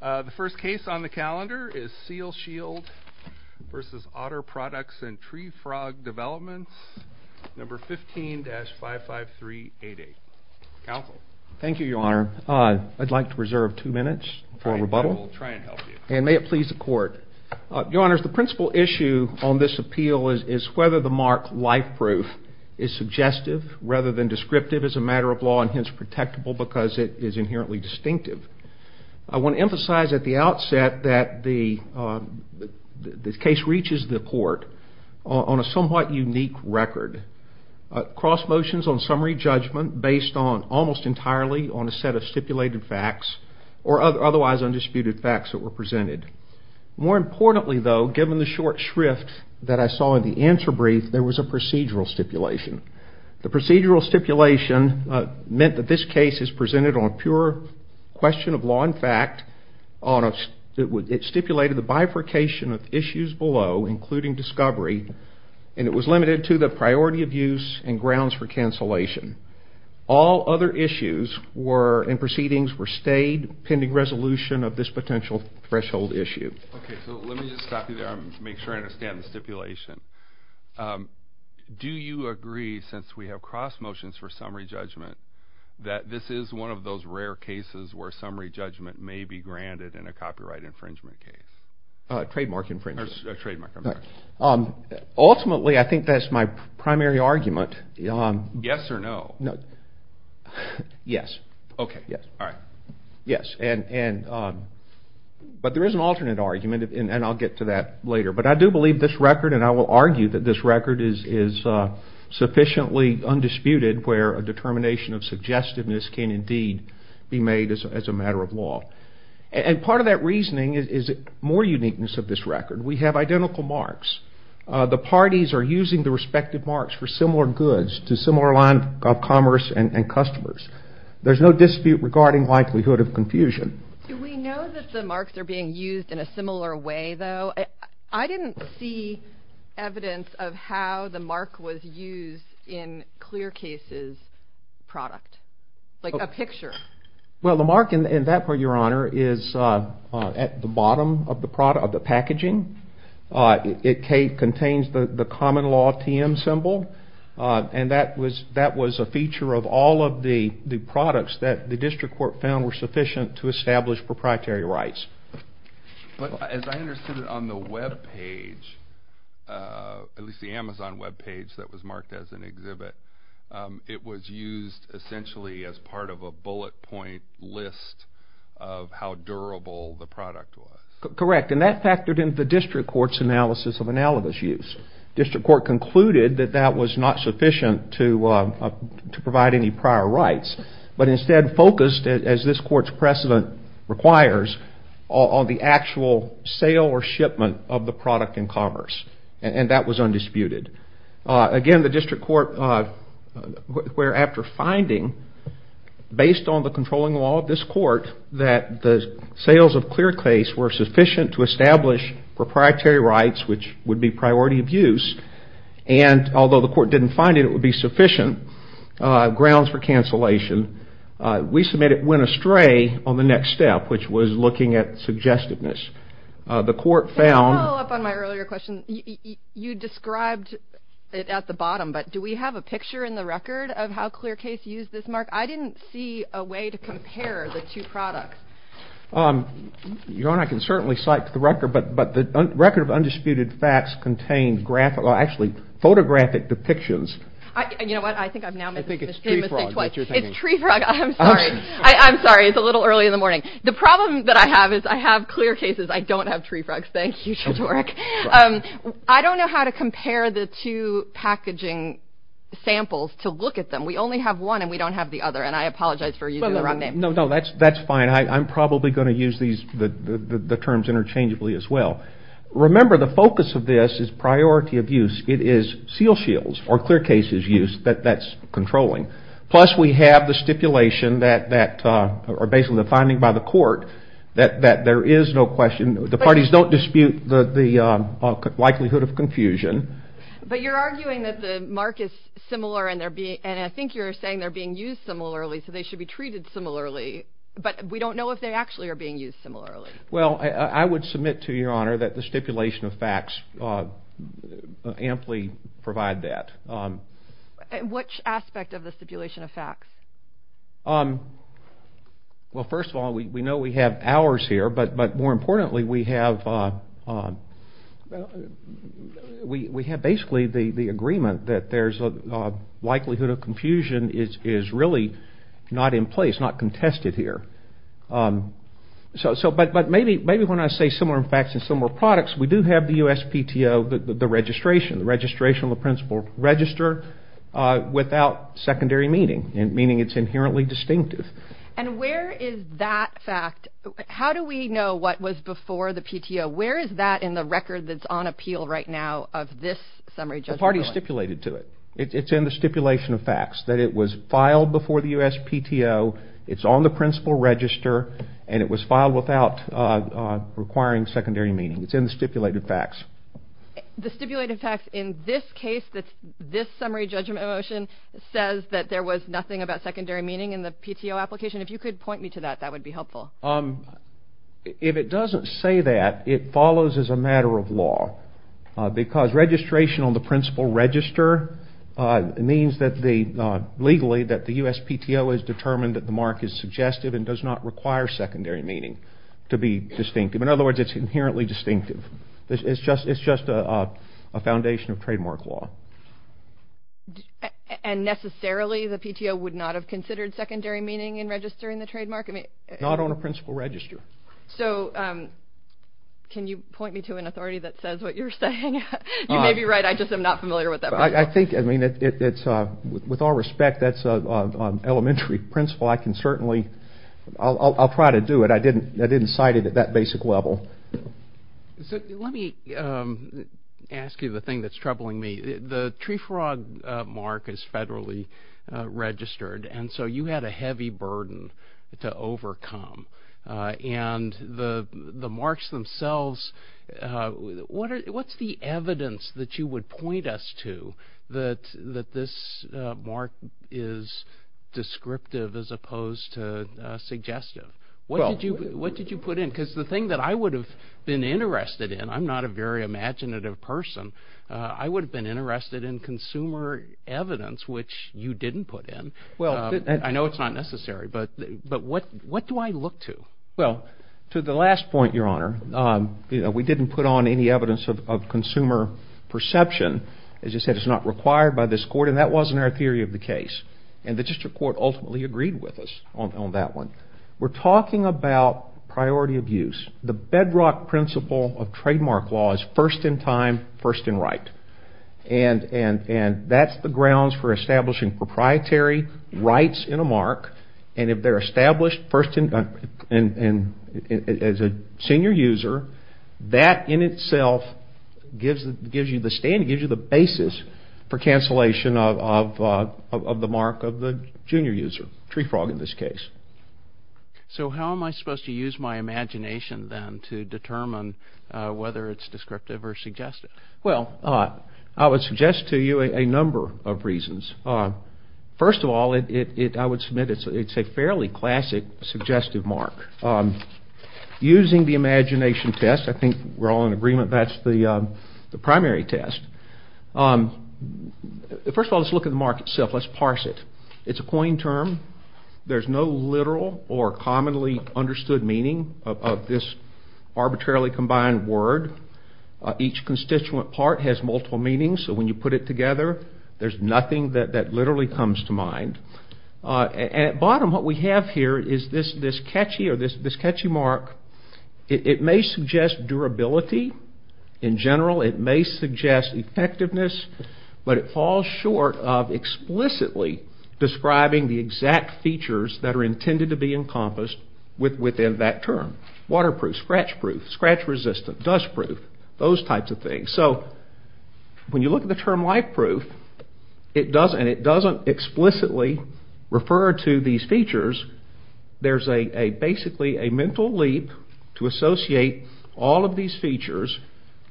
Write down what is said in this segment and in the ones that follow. The first case on the calendar is Seal Shield v. Otter Products and Tree Frog Developments, No. 15-55388. Counsel. Thank you, Your Honor. I'd like to reserve two minutes for rebuttal. I will try and help you. And may it please the Court. Your Honors, the principal issue on this appeal is whether the mark life proof is suggestive rather than descriptive as a matter of law and hence protectable because it is inherently distinctive. I want to emphasize at the outset that the case reaches the Court on a somewhat unique record. Cross motions on summary judgment based almost entirely on a set of stipulated facts or otherwise undisputed facts that were presented. More importantly, though, given the short shrift that I saw in the answer brief, there was a procedural stipulation. The procedural stipulation meant that this case is presented on pure question of law and fact. It stipulated the bifurcation of issues below, including discovery, and it was limited to the priority of use and grounds for cancellation. All other issues and proceedings were stayed pending resolution of this potential threshold issue. Okay, so let me just stop you there and make sure I understand the stipulation. Do you agree, since we have cross motions for summary judgment, that this is one of those rare cases where summary judgment may be granted in a copyright infringement case? Trademark infringement. Trademark, I'm sorry. Ultimately, I think that's my primary argument. Yes or no? No. Yes. Okay, yes. All right. Yes. But there is an alternate argument, and I'll get to that later. But I do believe this record, and I will argue that this record is sufficiently undisputed where a determination of suggestiveness can indeed be made as a matter of law. And part of that reasoning is more uniqueness of this record. We have identical marks. The parties are using the respective marks for similar goods to similar line of commerce and customers. There's no dispute regarding likelihood of confusion. Do we know that the marks are being used in a similar way, though? I didn't see evidence of how the mark was used in Clearcase's product, like a picture. Well, the mark in that part, Your Honor, is at the bottom of the packaging. It contains the common law TM symbol. And that was a feature of all of the products that the district court found were sufficient to establish proprietary rights. But as I understood it on the web page, at least the Amazon web page that was marked as an exhibit, it was used essentially as part of a bullet point list of how durable the product was. Correct. And that factored into the district court's analysis of analogous use. District court concluded that that was not sufficient to provide any prior rights, but instead focused, as this court's precedent requires, on the actual sale or shipment of the product in commerce. And that was undisputed. Again, the district court, where after finding, based on the controlling law of this court, that the sales of Clearcase were sufficient to establish proprietary rights, which would be priority of use, and although the court didn't find it would be sufficient grounds for cancellation, we submit it went astray on the next step, which was looking at suggestiveness. The court found- Can I follow up on my earlier question? You described it at the bottom, but do we have a picture in the record of how Clearcase used this mark? I didn't see a way to compare the two products. Your Honor, I can certainly cite the record, but the record of undisputed facts contains actually photographic depictions. You know what? I think I've now made a mistake. I think it's tree frog. It's tree frog. I'm sorry. I'm sorry. It's a little early in the morning. The problem that I have is I have Clearcase's. I don't have tree frog's. Thank you, Judge Warwick. I don't know how to compare the two packaging samples to look at them. We only have one, and we don't have the other, and I apologize for using the wrong name. No, that's fine. I'm probably going to use the terms interchangeably as well. Remember, the focus of this is priority of use. It is Seal Shield's or Clearcase's use that that's controlling. Plus, we have the stipulation that are based on the finding by the court that there is no question. The parties don't dispute the likelihood of confusion. But you're arguing that the mark is similar, and I think you're saying they're being used similarly, so they should be treated similarly, but we don't know if they actually are being used similarly. Well, I would submit to your honor that the stipulation of facts amply provide that. Which aspect of the stipulation of facts? Well, first of all, we know we have ours here, but more importantly, we have basically the agreement that there's a likelihood of confusion is really not in place, not contested here. But maybe when I say similar facts and similar products, we do have the USPTO, the registration, the principal register without secondary meaning, meaning it's inherently distinctive. And where is that fact? How do we know what was before the PTO? Where is that in the record that's on appeal right now of this summary judgment? The party stipulated to it. It's in the stipulation of facts that it was filed before the USPTO. It's on the principal register, and it was filed without requiring secondary meaning. It's in the stipulated facts. The stipulated facts in this case, this summary judgment motion, says that there was nothing about secondary meaning in the PTO application. If you could point me to that, that would be helpful. If it doesn't say that, it follows as a matter of law, because registration on the principal register means legally that the USPTO has determined that the mark is suggestive and does not require secondary meaning to be distinctive. In other words, it's inherently distinctive. It's just a foundation of trademark law. And necessarily the PTO would not have considered secondary meaning in registering the trademark? Not on a principal register. So can you point me to an authority that says what you're saying? You may be right. I just am not familiar with that principle. I think, I mean, with all respect, that's an elementary principle. I can certainly, I'll try to do it. I didn't cite it at that basic level. So let me ask you the thing that's troubling me. The tree frog mark is federally registered, and so you had a heavy burden to overcome. And the marks themselves, what's the evidence that you would point us to that this mark is descriptive as opposed to suggestive? What did you put in? Because the thing that I would have been interested in, I'm not a very imaginative person, I would have been interested in consumer evidence, which you didn't put in. I know it's not necessary, but what do I look to? Well, to the last point, Your Honor, we didn't put on any evidence of consumer perception. As you said, it's not required by this court, and that wasn't our theory of the case. And the district court ultimately agreed with us on that one. We're talking about priority of use. The bedrock principle of trademark law is first in time, first in right. And that's the grounds for establishing proprietary rights in a mark, and if they're established as a senior user, that in itself gives you the stand, for cancellation of the mark of the junior user, tree frog in this case. So how am I supposed to use my imagination then to determine whether it's descriptive or suggestive? Well, I would suggest to you a number of reasons. First of all, I would submit it's a fairly classic suggestive mark. Using the imagination test, I think we're all in agreement that's the primary test. First of all, let's look at the mark itself. Let's parse it. It's a coin term. There's no literal or commonly understood meaning of this arbitrarily combined word. Each constituent part has multiple meanings, so when you put it together, there's nothing that literally comes to mind. At bottom, what we have here is this catchy mark. It may suggest durability in general. It may suggest effectiveness, but it falls short of explicitly describing the exact features that are intended to be encompassed within that term. Waterproof, scratchproof, scratch-resistant, dustproof, those types of things. So when you look at the term lifeproof, and it doesn't explicitly refer to these features, there's basically a mental leap to associate all of these features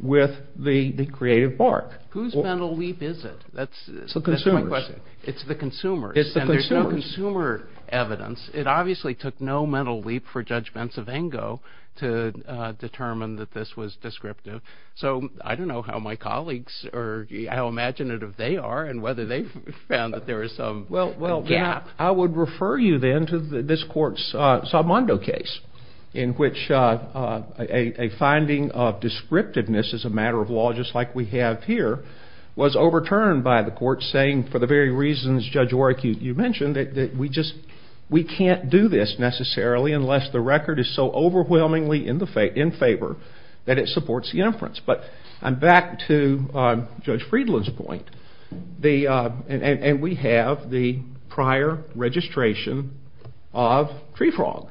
with the creative mark. Whose mental leap is it? It's the consumer's. It's the consumer's. It's the consumer's. And there's no consumer evidence. It obviously took no mental leap for Judge Bentz-Avengo to determine that this was descriptive. So I don't know how my colleagues or how imaginative they are and whether they've found that there is some gap. Well, I would refer you then to this court's Salmando case, in which a finding of descriptiveness as a matter of law, just like we have here, was overturned by the court, saying for the very reasons Judge Warrick, you mentioned, that we can't do this necessarily unless the record is so overwhelmingly in favor that it supports the inference. But I'm back to Judge Friedland's point. And we have the prior registration of tree frog.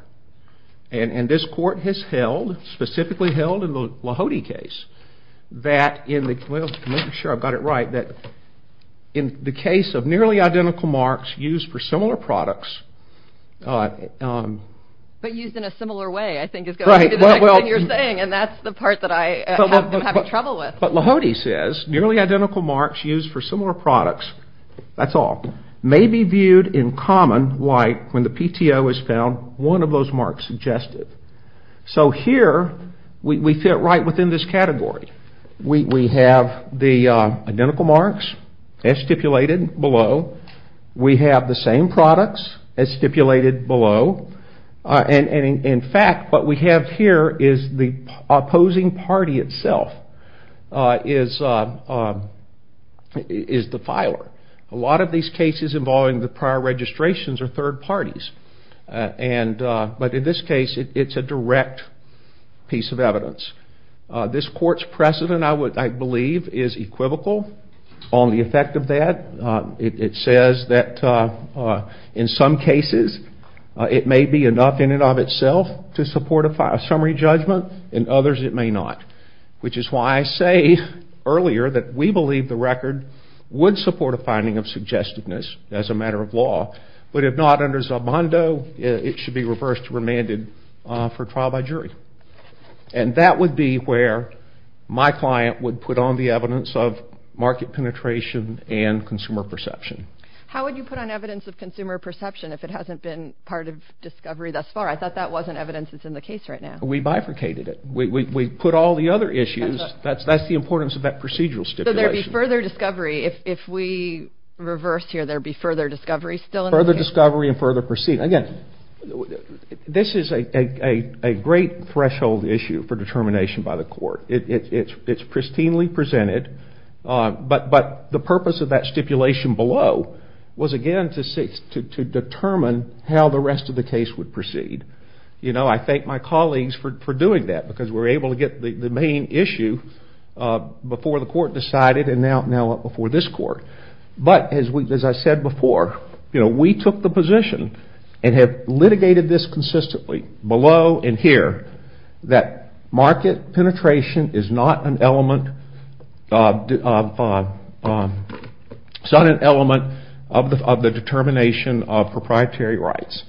And this court has held, specifically held in the Lahode case, that in the case of nearly identical marks used for similar products. But used in a similar way, I think is going to be the next thing you're saying. And that's the part that I'm having trouble with. But Lahode says nearly identical marks used for similar products, that's all, may be viewed in common like when the PTO has found one of those marks suggested. So here we fit right within this category. We have the identical marks as stipulated below. We have the same products as stipulated below. And in fact, what we have here is the opposing party itself is the filer. A lot of these cases involving the prior registrations are third parties. But in this case, it's a direct piece of evidence. This court's precedent, I believe, is equivocal on the effect of that. It says that in some cases, it may be enough in and of itself to support a summary judgment. In others, it may not. Which is why I say earlier that we believe the record would support a finding of suggestedness as a matter of law. But if not under Zabando, it should be reversed to remanded for trial by jury. And that would be where my client would put on the evidence of market penetration and consumer perception. How would you put on evidence of consumer perception if it hasn't been part of discovery thus far? I thought that wasn't evidence that's in the case right now. We bifurcated it. We put all the other issues. That's the importance of that procedural stipulation. So there'd be further discovery if we reversed here. There'd be further discovery still in the case? Further discovery and further proceeding. Again, this is a great threshold issue for determination by the court. It's pristinely presented. But the purpose of that stipulation below was, again, to determine how the rest of the case would proceed. I thank my colleagues for doing that because we were able to get the main issue before the court decided and now up before this court. But as I said before, we took the position and have litigated this consistently below and here, that market penetration is not an element of the determination of proprietary rights.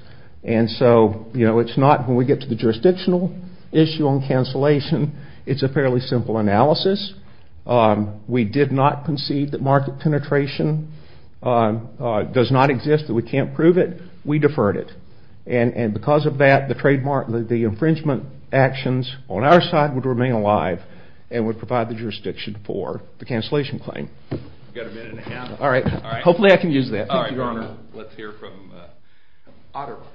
And so it's not when we get to the jurisdictional issue on cancellation, it's a fairly simple analysis. We did not concede that market penetration does not exist, that we can't prove it. We deferred it. And because of that, the infringement actions on our side would remain alive and would provide the jurisdiction for the cancellation claim. We've got a minute and a half. All right. Hopefully I can use that. All right, Your Honor. Let's hear from Otterbeck.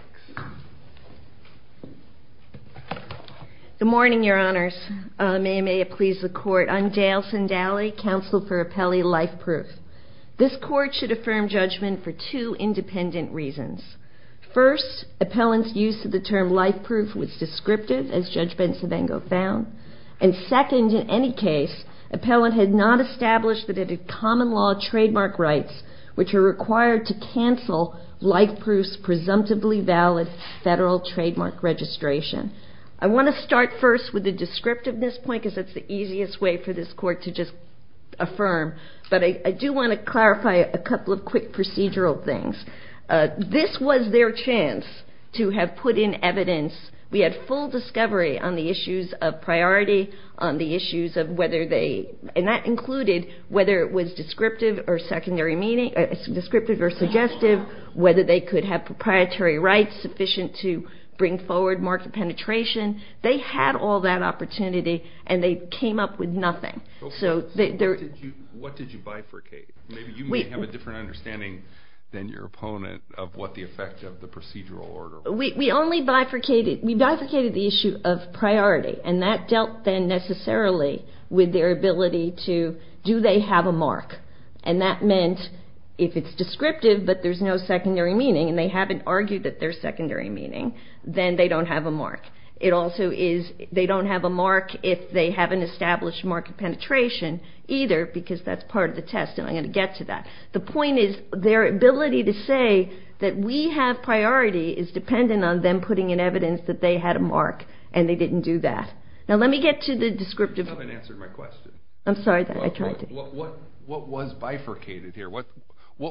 Good morning, Your Honors. May it please the Court. I'm Dale Sindaly, Counsel for Appellee Life Proof. This Court should affirm judgment for two independent reasons. First, appellant's use of the term life proof was descriptive, as Judge Bensabengo found. And second, in any case, appellant had not established that it had common law trademark rights, which are required to cancel life proof's presumptively valid federal trademark registration. I want to start first with the descriptiveness point, because that's the easiest way for this Court to just affirm. But I do want to clarify a couple of quick procedural things. This was their chance to have put in evidence. We had full discovery on the issues of priority, on the issues of whether they, and that included whether it was descriptive or suggestive, whether they could have proprietary rights sufficient to bring forward mark penetration. They had all that opportunity, and they came up with nothing. So what did you bifurcate? Maybe you may have a different understanding than your opponent of what the effect of the procedural order was. We bifurcated the issue of priority, and that dealt then necessarily with their ability to do they have a mark. And that meant if it's descriptive, but there's no secondary meaning, and they haven't argued that there's secondary meaning, then they don't have a mark. It also is they don't have a mark if they haven't established mark penetration either, because that's part of the test, and I'm going to get to that. The point is their ability to say that we have priority is dependent on them putting in evidence that they had a mark, and they didn't do that. Now let me get to the descriptive. You haven't answered my question. I'm sorry. I tried to. What was bifurcated here? What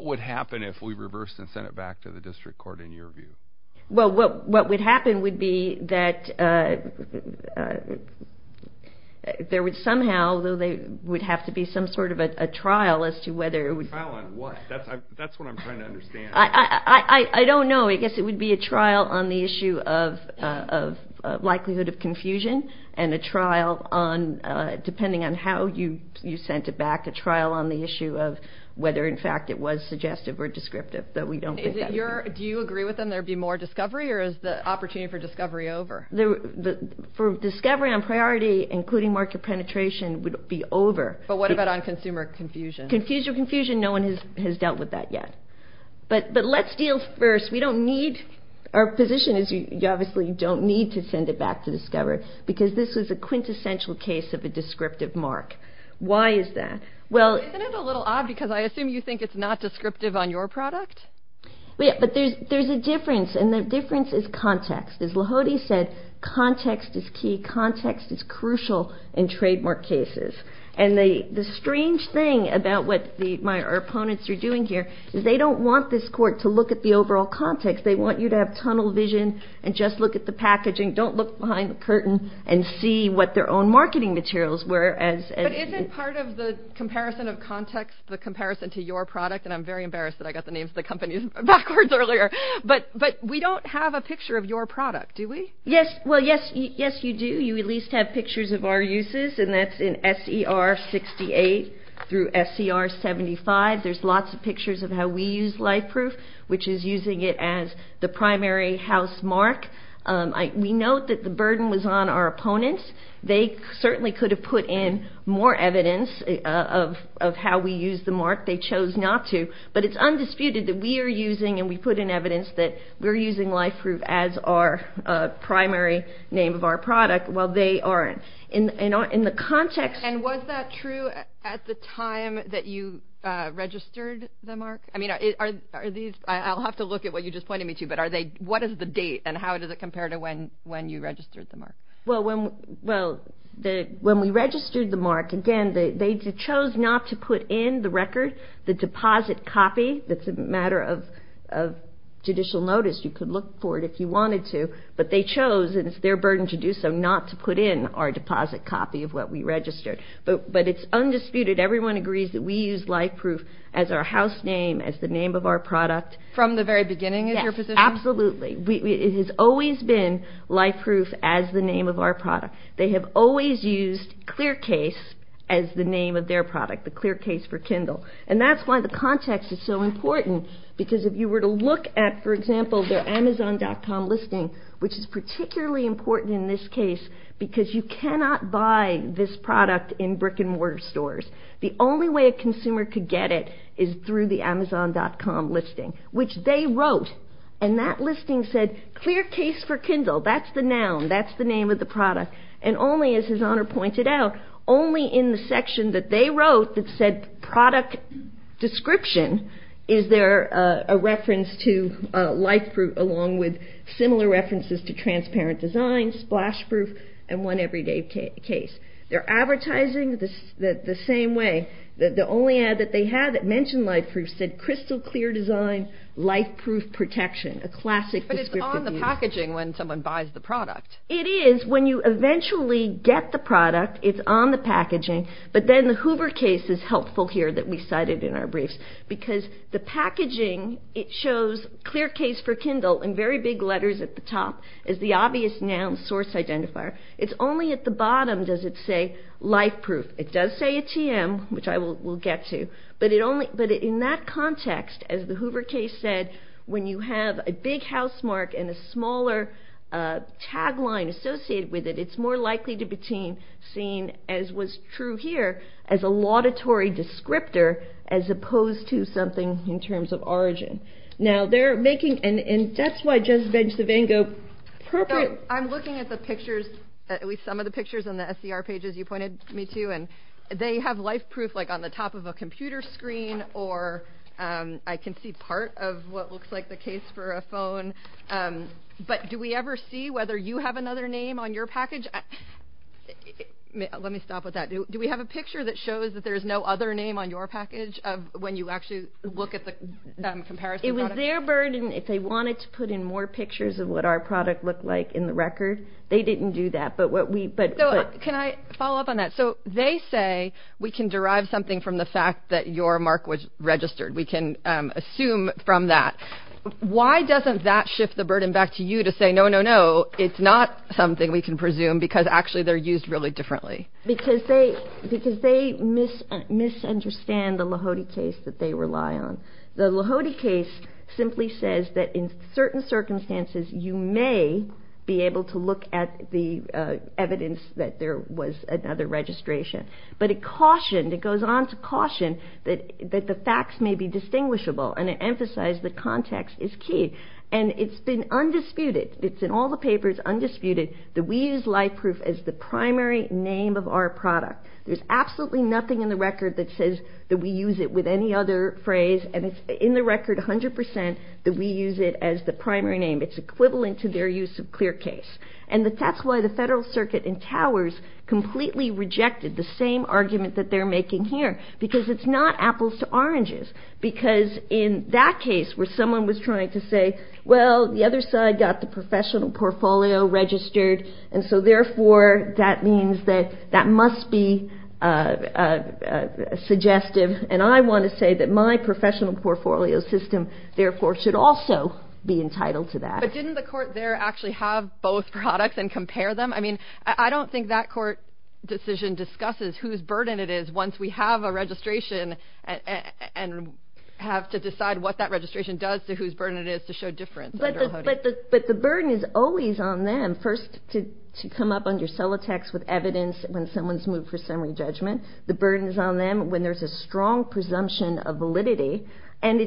would happen if we reversed and sent it back to the district court in your view? Well, what would happen would be that there would somehow, though there would have to be some sort of a trial as to whether it would be. A trial on what? That's what I'm trying to understand. I don't know. I guess it would be a trial on the issue of likelihood of confusion and a trial on depending on how you sent it back, a trial on the issue of whether, in fact, it was suggestive or descriptive, though we don't think that. Do you agree with them there would be more discovery, or is the opportunity for discovery over? For discovery on priority, including mark penetration, would be over. But what about on consumer confusion? Consumer confusion, no one has dealt with that yet. But let's deal first. Our position is you obviously don't need to send it back to discover because this was a quintessential case of a descriptive mark. Why is that? Isn't it a little odd because I assume you think it's not descriptive on your product? Yeah, but there's a difference, and the difference is context. As Lahode said, context is key. Context is crucial in trademark cases. And the strange thing about what our opponents are doing here is they don't want this court to look at the overall context. They want you to have tunnel vision and just look at the packaging. Don't look behind the curtain and see what their own marketing materials were. But isn't part of the comparison of context the comparison to your product? And I'm very embarrassed that I got the names of the companies backwards earlier. But we don't have a picture of your product, do we? Yes, well, yes, you do. You at least have pictures of our uses, and that's in SER 68 through SER 75. There's lots of pictures of how we use LifeProof, which is using it as the primary house mark. We note that the burden was on our opponents. They certainly could have put in more evidence of how we use the mark. They chose not to. But it's undisputed that we are using, and we put in evidence, that we're using LifeProof as our primary name of our product, while they aren't. And was that true at the time that you registered the mark? I'll have to look at what you just pointed me to. But what is the date, and how does it compare to when you registered the mark? Well, when we registered the mark, again, they chose not to put in the record, the deposit copy. It's a matter of judicial notice. You could look for it if you wanted to. But they chose, and it's their burden to do so, not to put in our deposit copy of what we registered. But it's undisputed. Everyone agrees that we use LifeProof as our house name, as the name of our product. From the very beginning is your position? Yes, absolutely. It has always been LifeProof as the name of our product. They have always used ClearCase as the name of their product, the ClearCase for Kindle. And that's why the context is so important. Because if you were to look at, for example, their Amazon.com listing, which is particularly important in this case, because you cannot buy this product in brick-and-mortar stores. The only way a consumer could get it is through the Amazon.com listing, which they wrote. And that listing said, ClearCase for Kindle. That's the noun. That's the name of the product. And only, as His Honor pointed out, only in the section that they wrote that said, Product Description, is there a reference to LifeProof along with similar references to Transparent Design, SplashProof, and One Everyday Case. They're advertising the same way. The only ad that they had that mentioned LifeProof said, Crystal Clear Design, LifeProof Protection. A classic descriptive use. But it's on the packaging when someone buys the product. It is when you eventually get the product. It's on the packaging. But then the Hoover case is helpful here that we cited in our briefs. Because the packaging, it shows ClearCase for Kindle in very big letters at the top as the obvious noun source identifier. It's only at the bottom does it say LifeProof. It does say a TM, which I will get to. But in that context, as the Hoover case said, when you have a big housemark and a smaller tagline associated with it, it's more likely to be seen, as was true here, as a laudatory descriptor as opposed to something in terms of origin. Now, they're making, and that's why Judges Bench, Savango, perfect. I'm looking at the pictures, at least some of the pictures on the SCR pages you pointed me to. And they have LifeProof like on the top of a computer screen, or I can see part of what looks like the case for a phone. But do we ever see whether you have another name on your package? Let me stop with that. Do we have a picture that shows that there's no other name on your package when you actually look at the comparison product? It was their burden if they wanted to put in more pictures of what our product looked like in the record. They didn't do that. Can I follow up on that? So, they say we can derive something from the fact that your mark was registered. We can assume from that. Why doesn't that shift the burden back to you to say, no, no, no, it's not something we can presume because actually they're used really differently? Because they misunderstand the Lahodi case that they rely on. The Lahodi case simply says that in certain circumstances you may be able to look at the evidence that there was another registration. But it cautioned, it goes on to caution that the facts may be distinguishable. And it emphasized that context is key. And it's been undisputed, it's in all the papers undisputed that we use LifeProof as the primary name of our product. There's absolutely nothing in the record that says that we use it with any other phrase. And it's in the record 100% that we use it as the primary name. It's equivalent to their use of ClearCase. And that's why the Federal Circuit in Towers completely rejected the same argument that they're making here. Because it's not apples to oranges. Because in that case where someone was trying to say, well, the other side got the professional portfolio registered. And so, therefore, that means that that must be suggestive. And I want to say that my professional portfolio system, therefore, should also be entitled to that. But didn't the court there actually have both products and compare them? I mean, I don't think that court decision discusses whose burden it is once we have a registration and have to decide what that registration does to whose burden it is to show difference under Lahodi. But the burden is always on them first to come up under Solitex with evidence when someone's moved for summary judgment. The burden is on them when there's a strong presumption of validity. And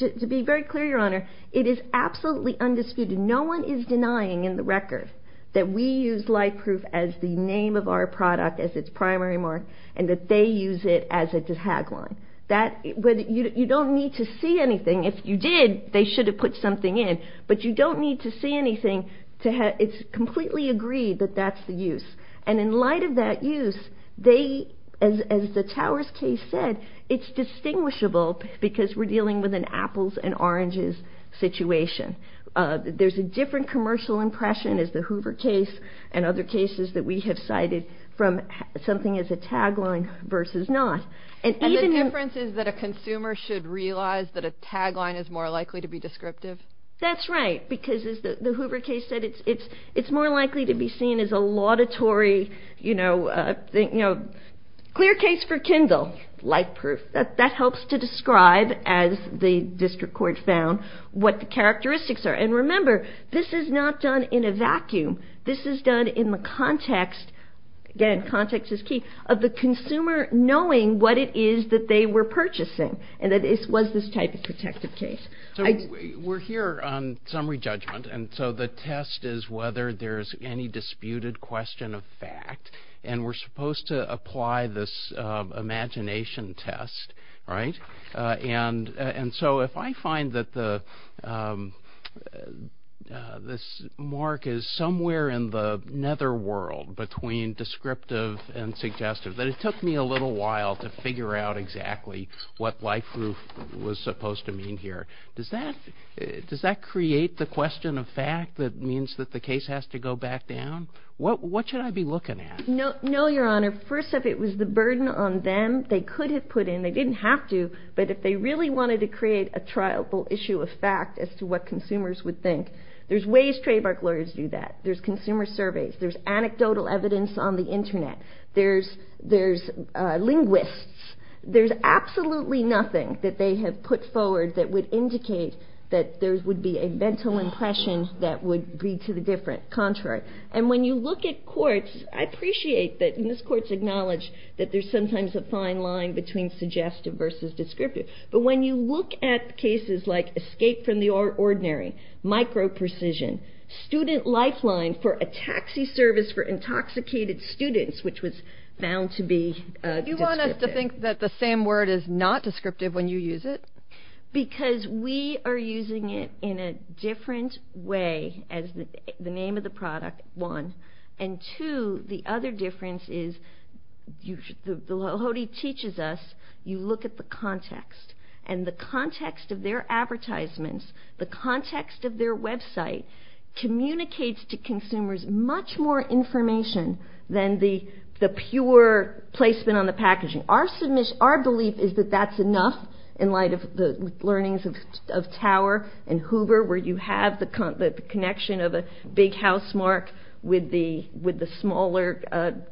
to be very clear, Your Honor, it is absolutely undisputed. No one is denying in the record that we use LifeProof as the name of our product, as its primary mark, and that they use it as a tagline. You don't need to see anything. If you did, they should have put something in. But you don't need to see anything. It's completely agreed that that's the use. And in light of that use, as the Towers case said, it's distinguishable because we're dealing with an apples and oranges situation. There's a different commercial impression, as the Hoover case and other cases that we have cited, from something as a tagline versus not. And the difference is that a consumer should realize that a tagline is more likely to be descriptive? That's right, because as the Hoover case said, it's more likely to be seen as a laudatory, you know, clear case for Kindle, LifeProof. That helps to describe, as the district court found, what the characteristics are. And remember, this is not done in a vacuum. This is done in the context, again, context is key, of the consumer knowing what it is that they were purchasing, and that it was this type of protective case. So we're here on summary judgment, and so the test is whether there's any disputed question of fact. And we're supposed to apply this imagination test, right? And so if I find that this mark is somewhere in the netherworld between descriptive and suggestive, that it took me a little while to figure out exactly what LifeProof was supposed to mean here, does that create the question of fact that means that the case has to go back down? What should I be looking at? No, Your Honor. First off, it was the burden on them. They could have put in, they didn't have to, but if they really wanted to create a triable issue of fact as to what consumers would think, there's ways trademark lawyers do that. There's consumer surveys. There's anecdotal evidence on the Internet. There's linguists. There's absolutely nothing that they have put forward that would indicate that there would be a mental impression that would be to the contrary. And when you look at courts, I appreciate that, and this court's acknowledged that there's sometimes a fine line between suggestive versus descriptive, but when you look at cases like escape from the ordinary, micro-precision, student lifeline for a taxi service for intoxicated students, which was found to be descriptive. Do you want us to think that the same word is not descriptive when you use it? Because we are using it in a different way as the name of the product, one, and, two, the other difference is the Lahoti teaches us you look at the context, and the context of their advertisements, the context of their website, communicates to consumers much more information than the pure placement on the packaging. Our belief is that that's enough in light of the learnings of Tower and Hoover where you have the connection of a big housemark with the smaller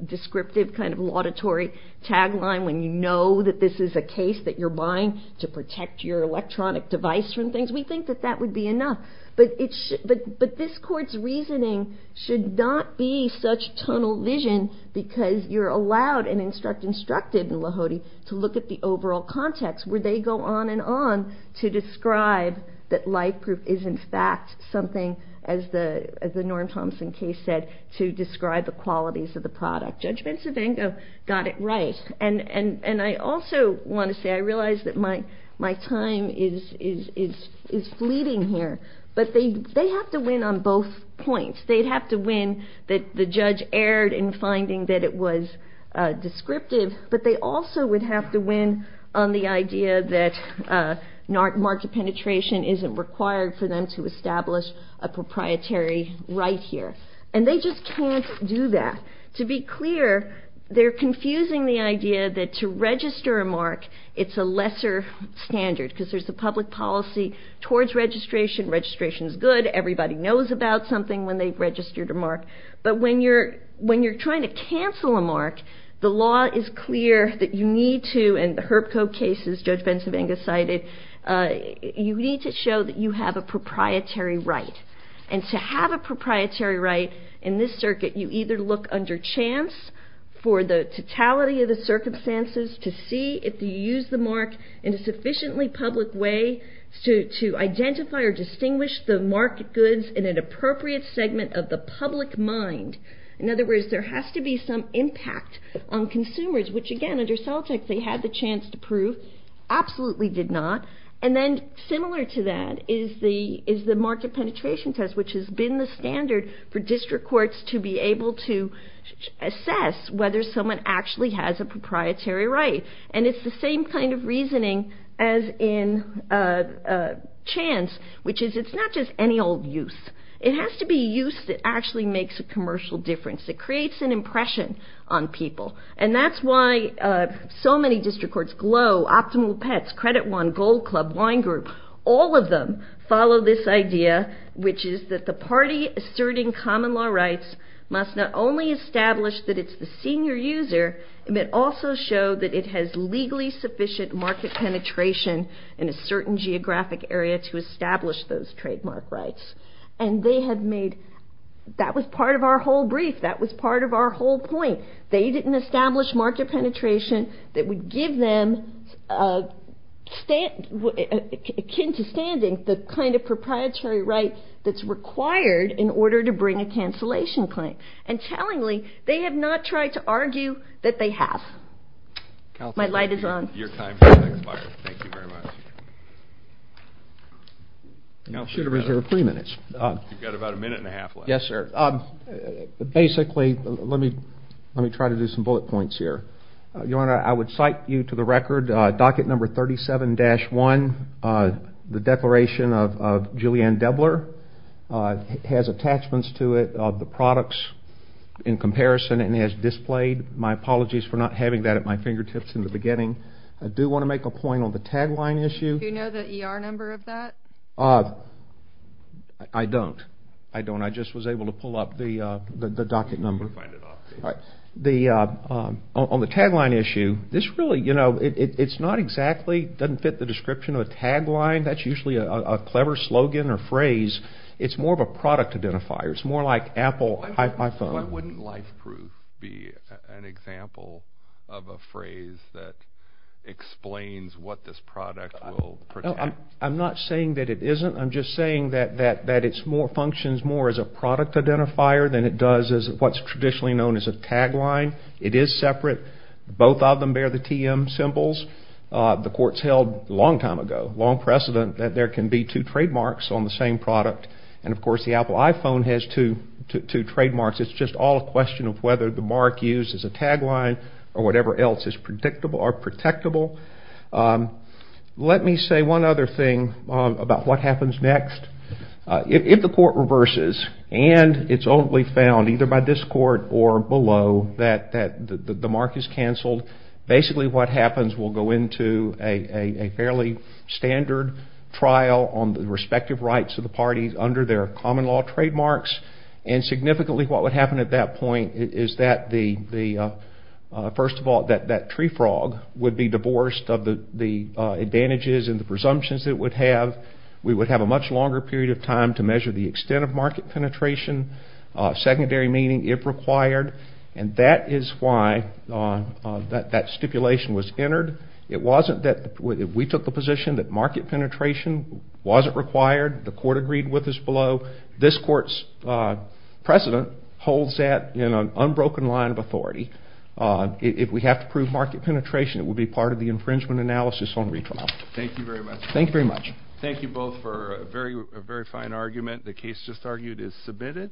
descriptive kind of auditory tagline when you know that this is a case that you're buying to protect your electronic device from things. We think that that would be enough, but this court's reasoning should not be such tunnel vision because you're allowed and instructed in Lahoti to look at the overall context where they go on and on to describe that light proof is in fact something, as the Norm Thompson case said, to describe the qualities of the product. Judge Bencivengo got it right, and I also want to say I realize that my time is fleeting here, but they have to win on both points. They'd have to win that the judge erred in finding that it was descriptive, but they also would have to win on the idea that mark penetration isn't required for them to establish a proprietary right here, and they just can't do that. To be clear, they're confusing the idea that to register a mark it's a lesser standard because there's a public policy towards registration. Registration is good. Everybody knows about something when they've registered a mark, but when you're trying to cancel a mark, the law is clear that you need to, and the Herb Cope case, as Judge Bencivengo cited, you need to show that you have a proprietary right, and to have a proprietary right in this circuit, you either look under chance for the totality of the circumstances to see if you use the mark in a sufficiently public way to identify or distinguish the marked goods in an appropriate segment of the public mind. In other words, there has to be some impact on consumers, which again under Celtic they had the chance to prove, absolutely did not, and then similar to that is the mark penetration test, which has been the standard for district courts to be able to assess whether someone actually has a proprietary right, and it's the same kind of reasoning as in chance, which is it's not just any old use. It has to be use that actually makes a commercial difference. It creates an impression on people, and that's why so many district courts, Glow, Optimal Pets, Credit One, Gold Club, Wine Group, all of them follow this idea, which is that the party asserting common law rights must not only establish that it's the senior user, but also show that it has legally sufficient market penetration in a certain geographic area to establish those trademark rights, and they have made, that was part of our whole brief, that was part of our whole point. They didn't establish market penetration that would give them, akin to standing, the kind of proprietary right that's required in order to bring a cancellation claim, and tellingly, they have not tried to argue that they have. My light is on. Your time has expired. Thank you very much. You should have reserved three minutes. You've got about a minute and a half left. Yes, sir. Basically, let me try to do some bullet points here. Your Honor, I would cite you to the record docket number 37-1, the declaration of Julianne Debler has attachments to it of the products in comparison and has displayed. My apologies for not having that at my fingertips in the beginning. I do want to make a point on the tagline issue. Do you know the ER number of that? I don't. I don't. I just was able to pull up the docket number. On the tagline issue, this really, you know, it's not exactly, it doesn't fit the description of a tagline. That's usually a clever slogan or phrase. It's more of a product identifier. It's more like Apple, iPhone. Why wouldn't life proof be an example of a phrase that explains what this product will protect? I'm not saying that it isn't. I'm just saying that it functions more as a product identifier than it does as what's traditionally known as a tagline. It is separate. Both of them bear the TM symbols. The court's held a long time ago, long precedent, that there can be two trademarks on the same product. And, of course, the Apple iPhone has two trademarks. It's just all a question of whether the mark used as a tagline or whatever else is predictable or protectable. Let me say one other thing about what happens next. If the court reverses and it's only found either by this court or below that the mark is canceled, basically what happens, we'll go into a fairly standard trial on the respective rights of the parties under their common law trademarks. And significantly what would happen at that point is that the, first of all, that tree frog would be divorced of the advantages and the presumptions it would have. We would have a much longer period of time to measure the extent of market penetration, secondary meaning if required. And that is why that stipulation was entered. It wasn't that we took the position that market penetration wasn't required. The court agreed with us below. This court's precedent holds that in an unbroken line of authority. If we have to prove market penetration, it would be part of the infringement analysis on retrial. Thank you very much. Thank you very much. Thank you both for a very fine argument. The case just argued is submitted.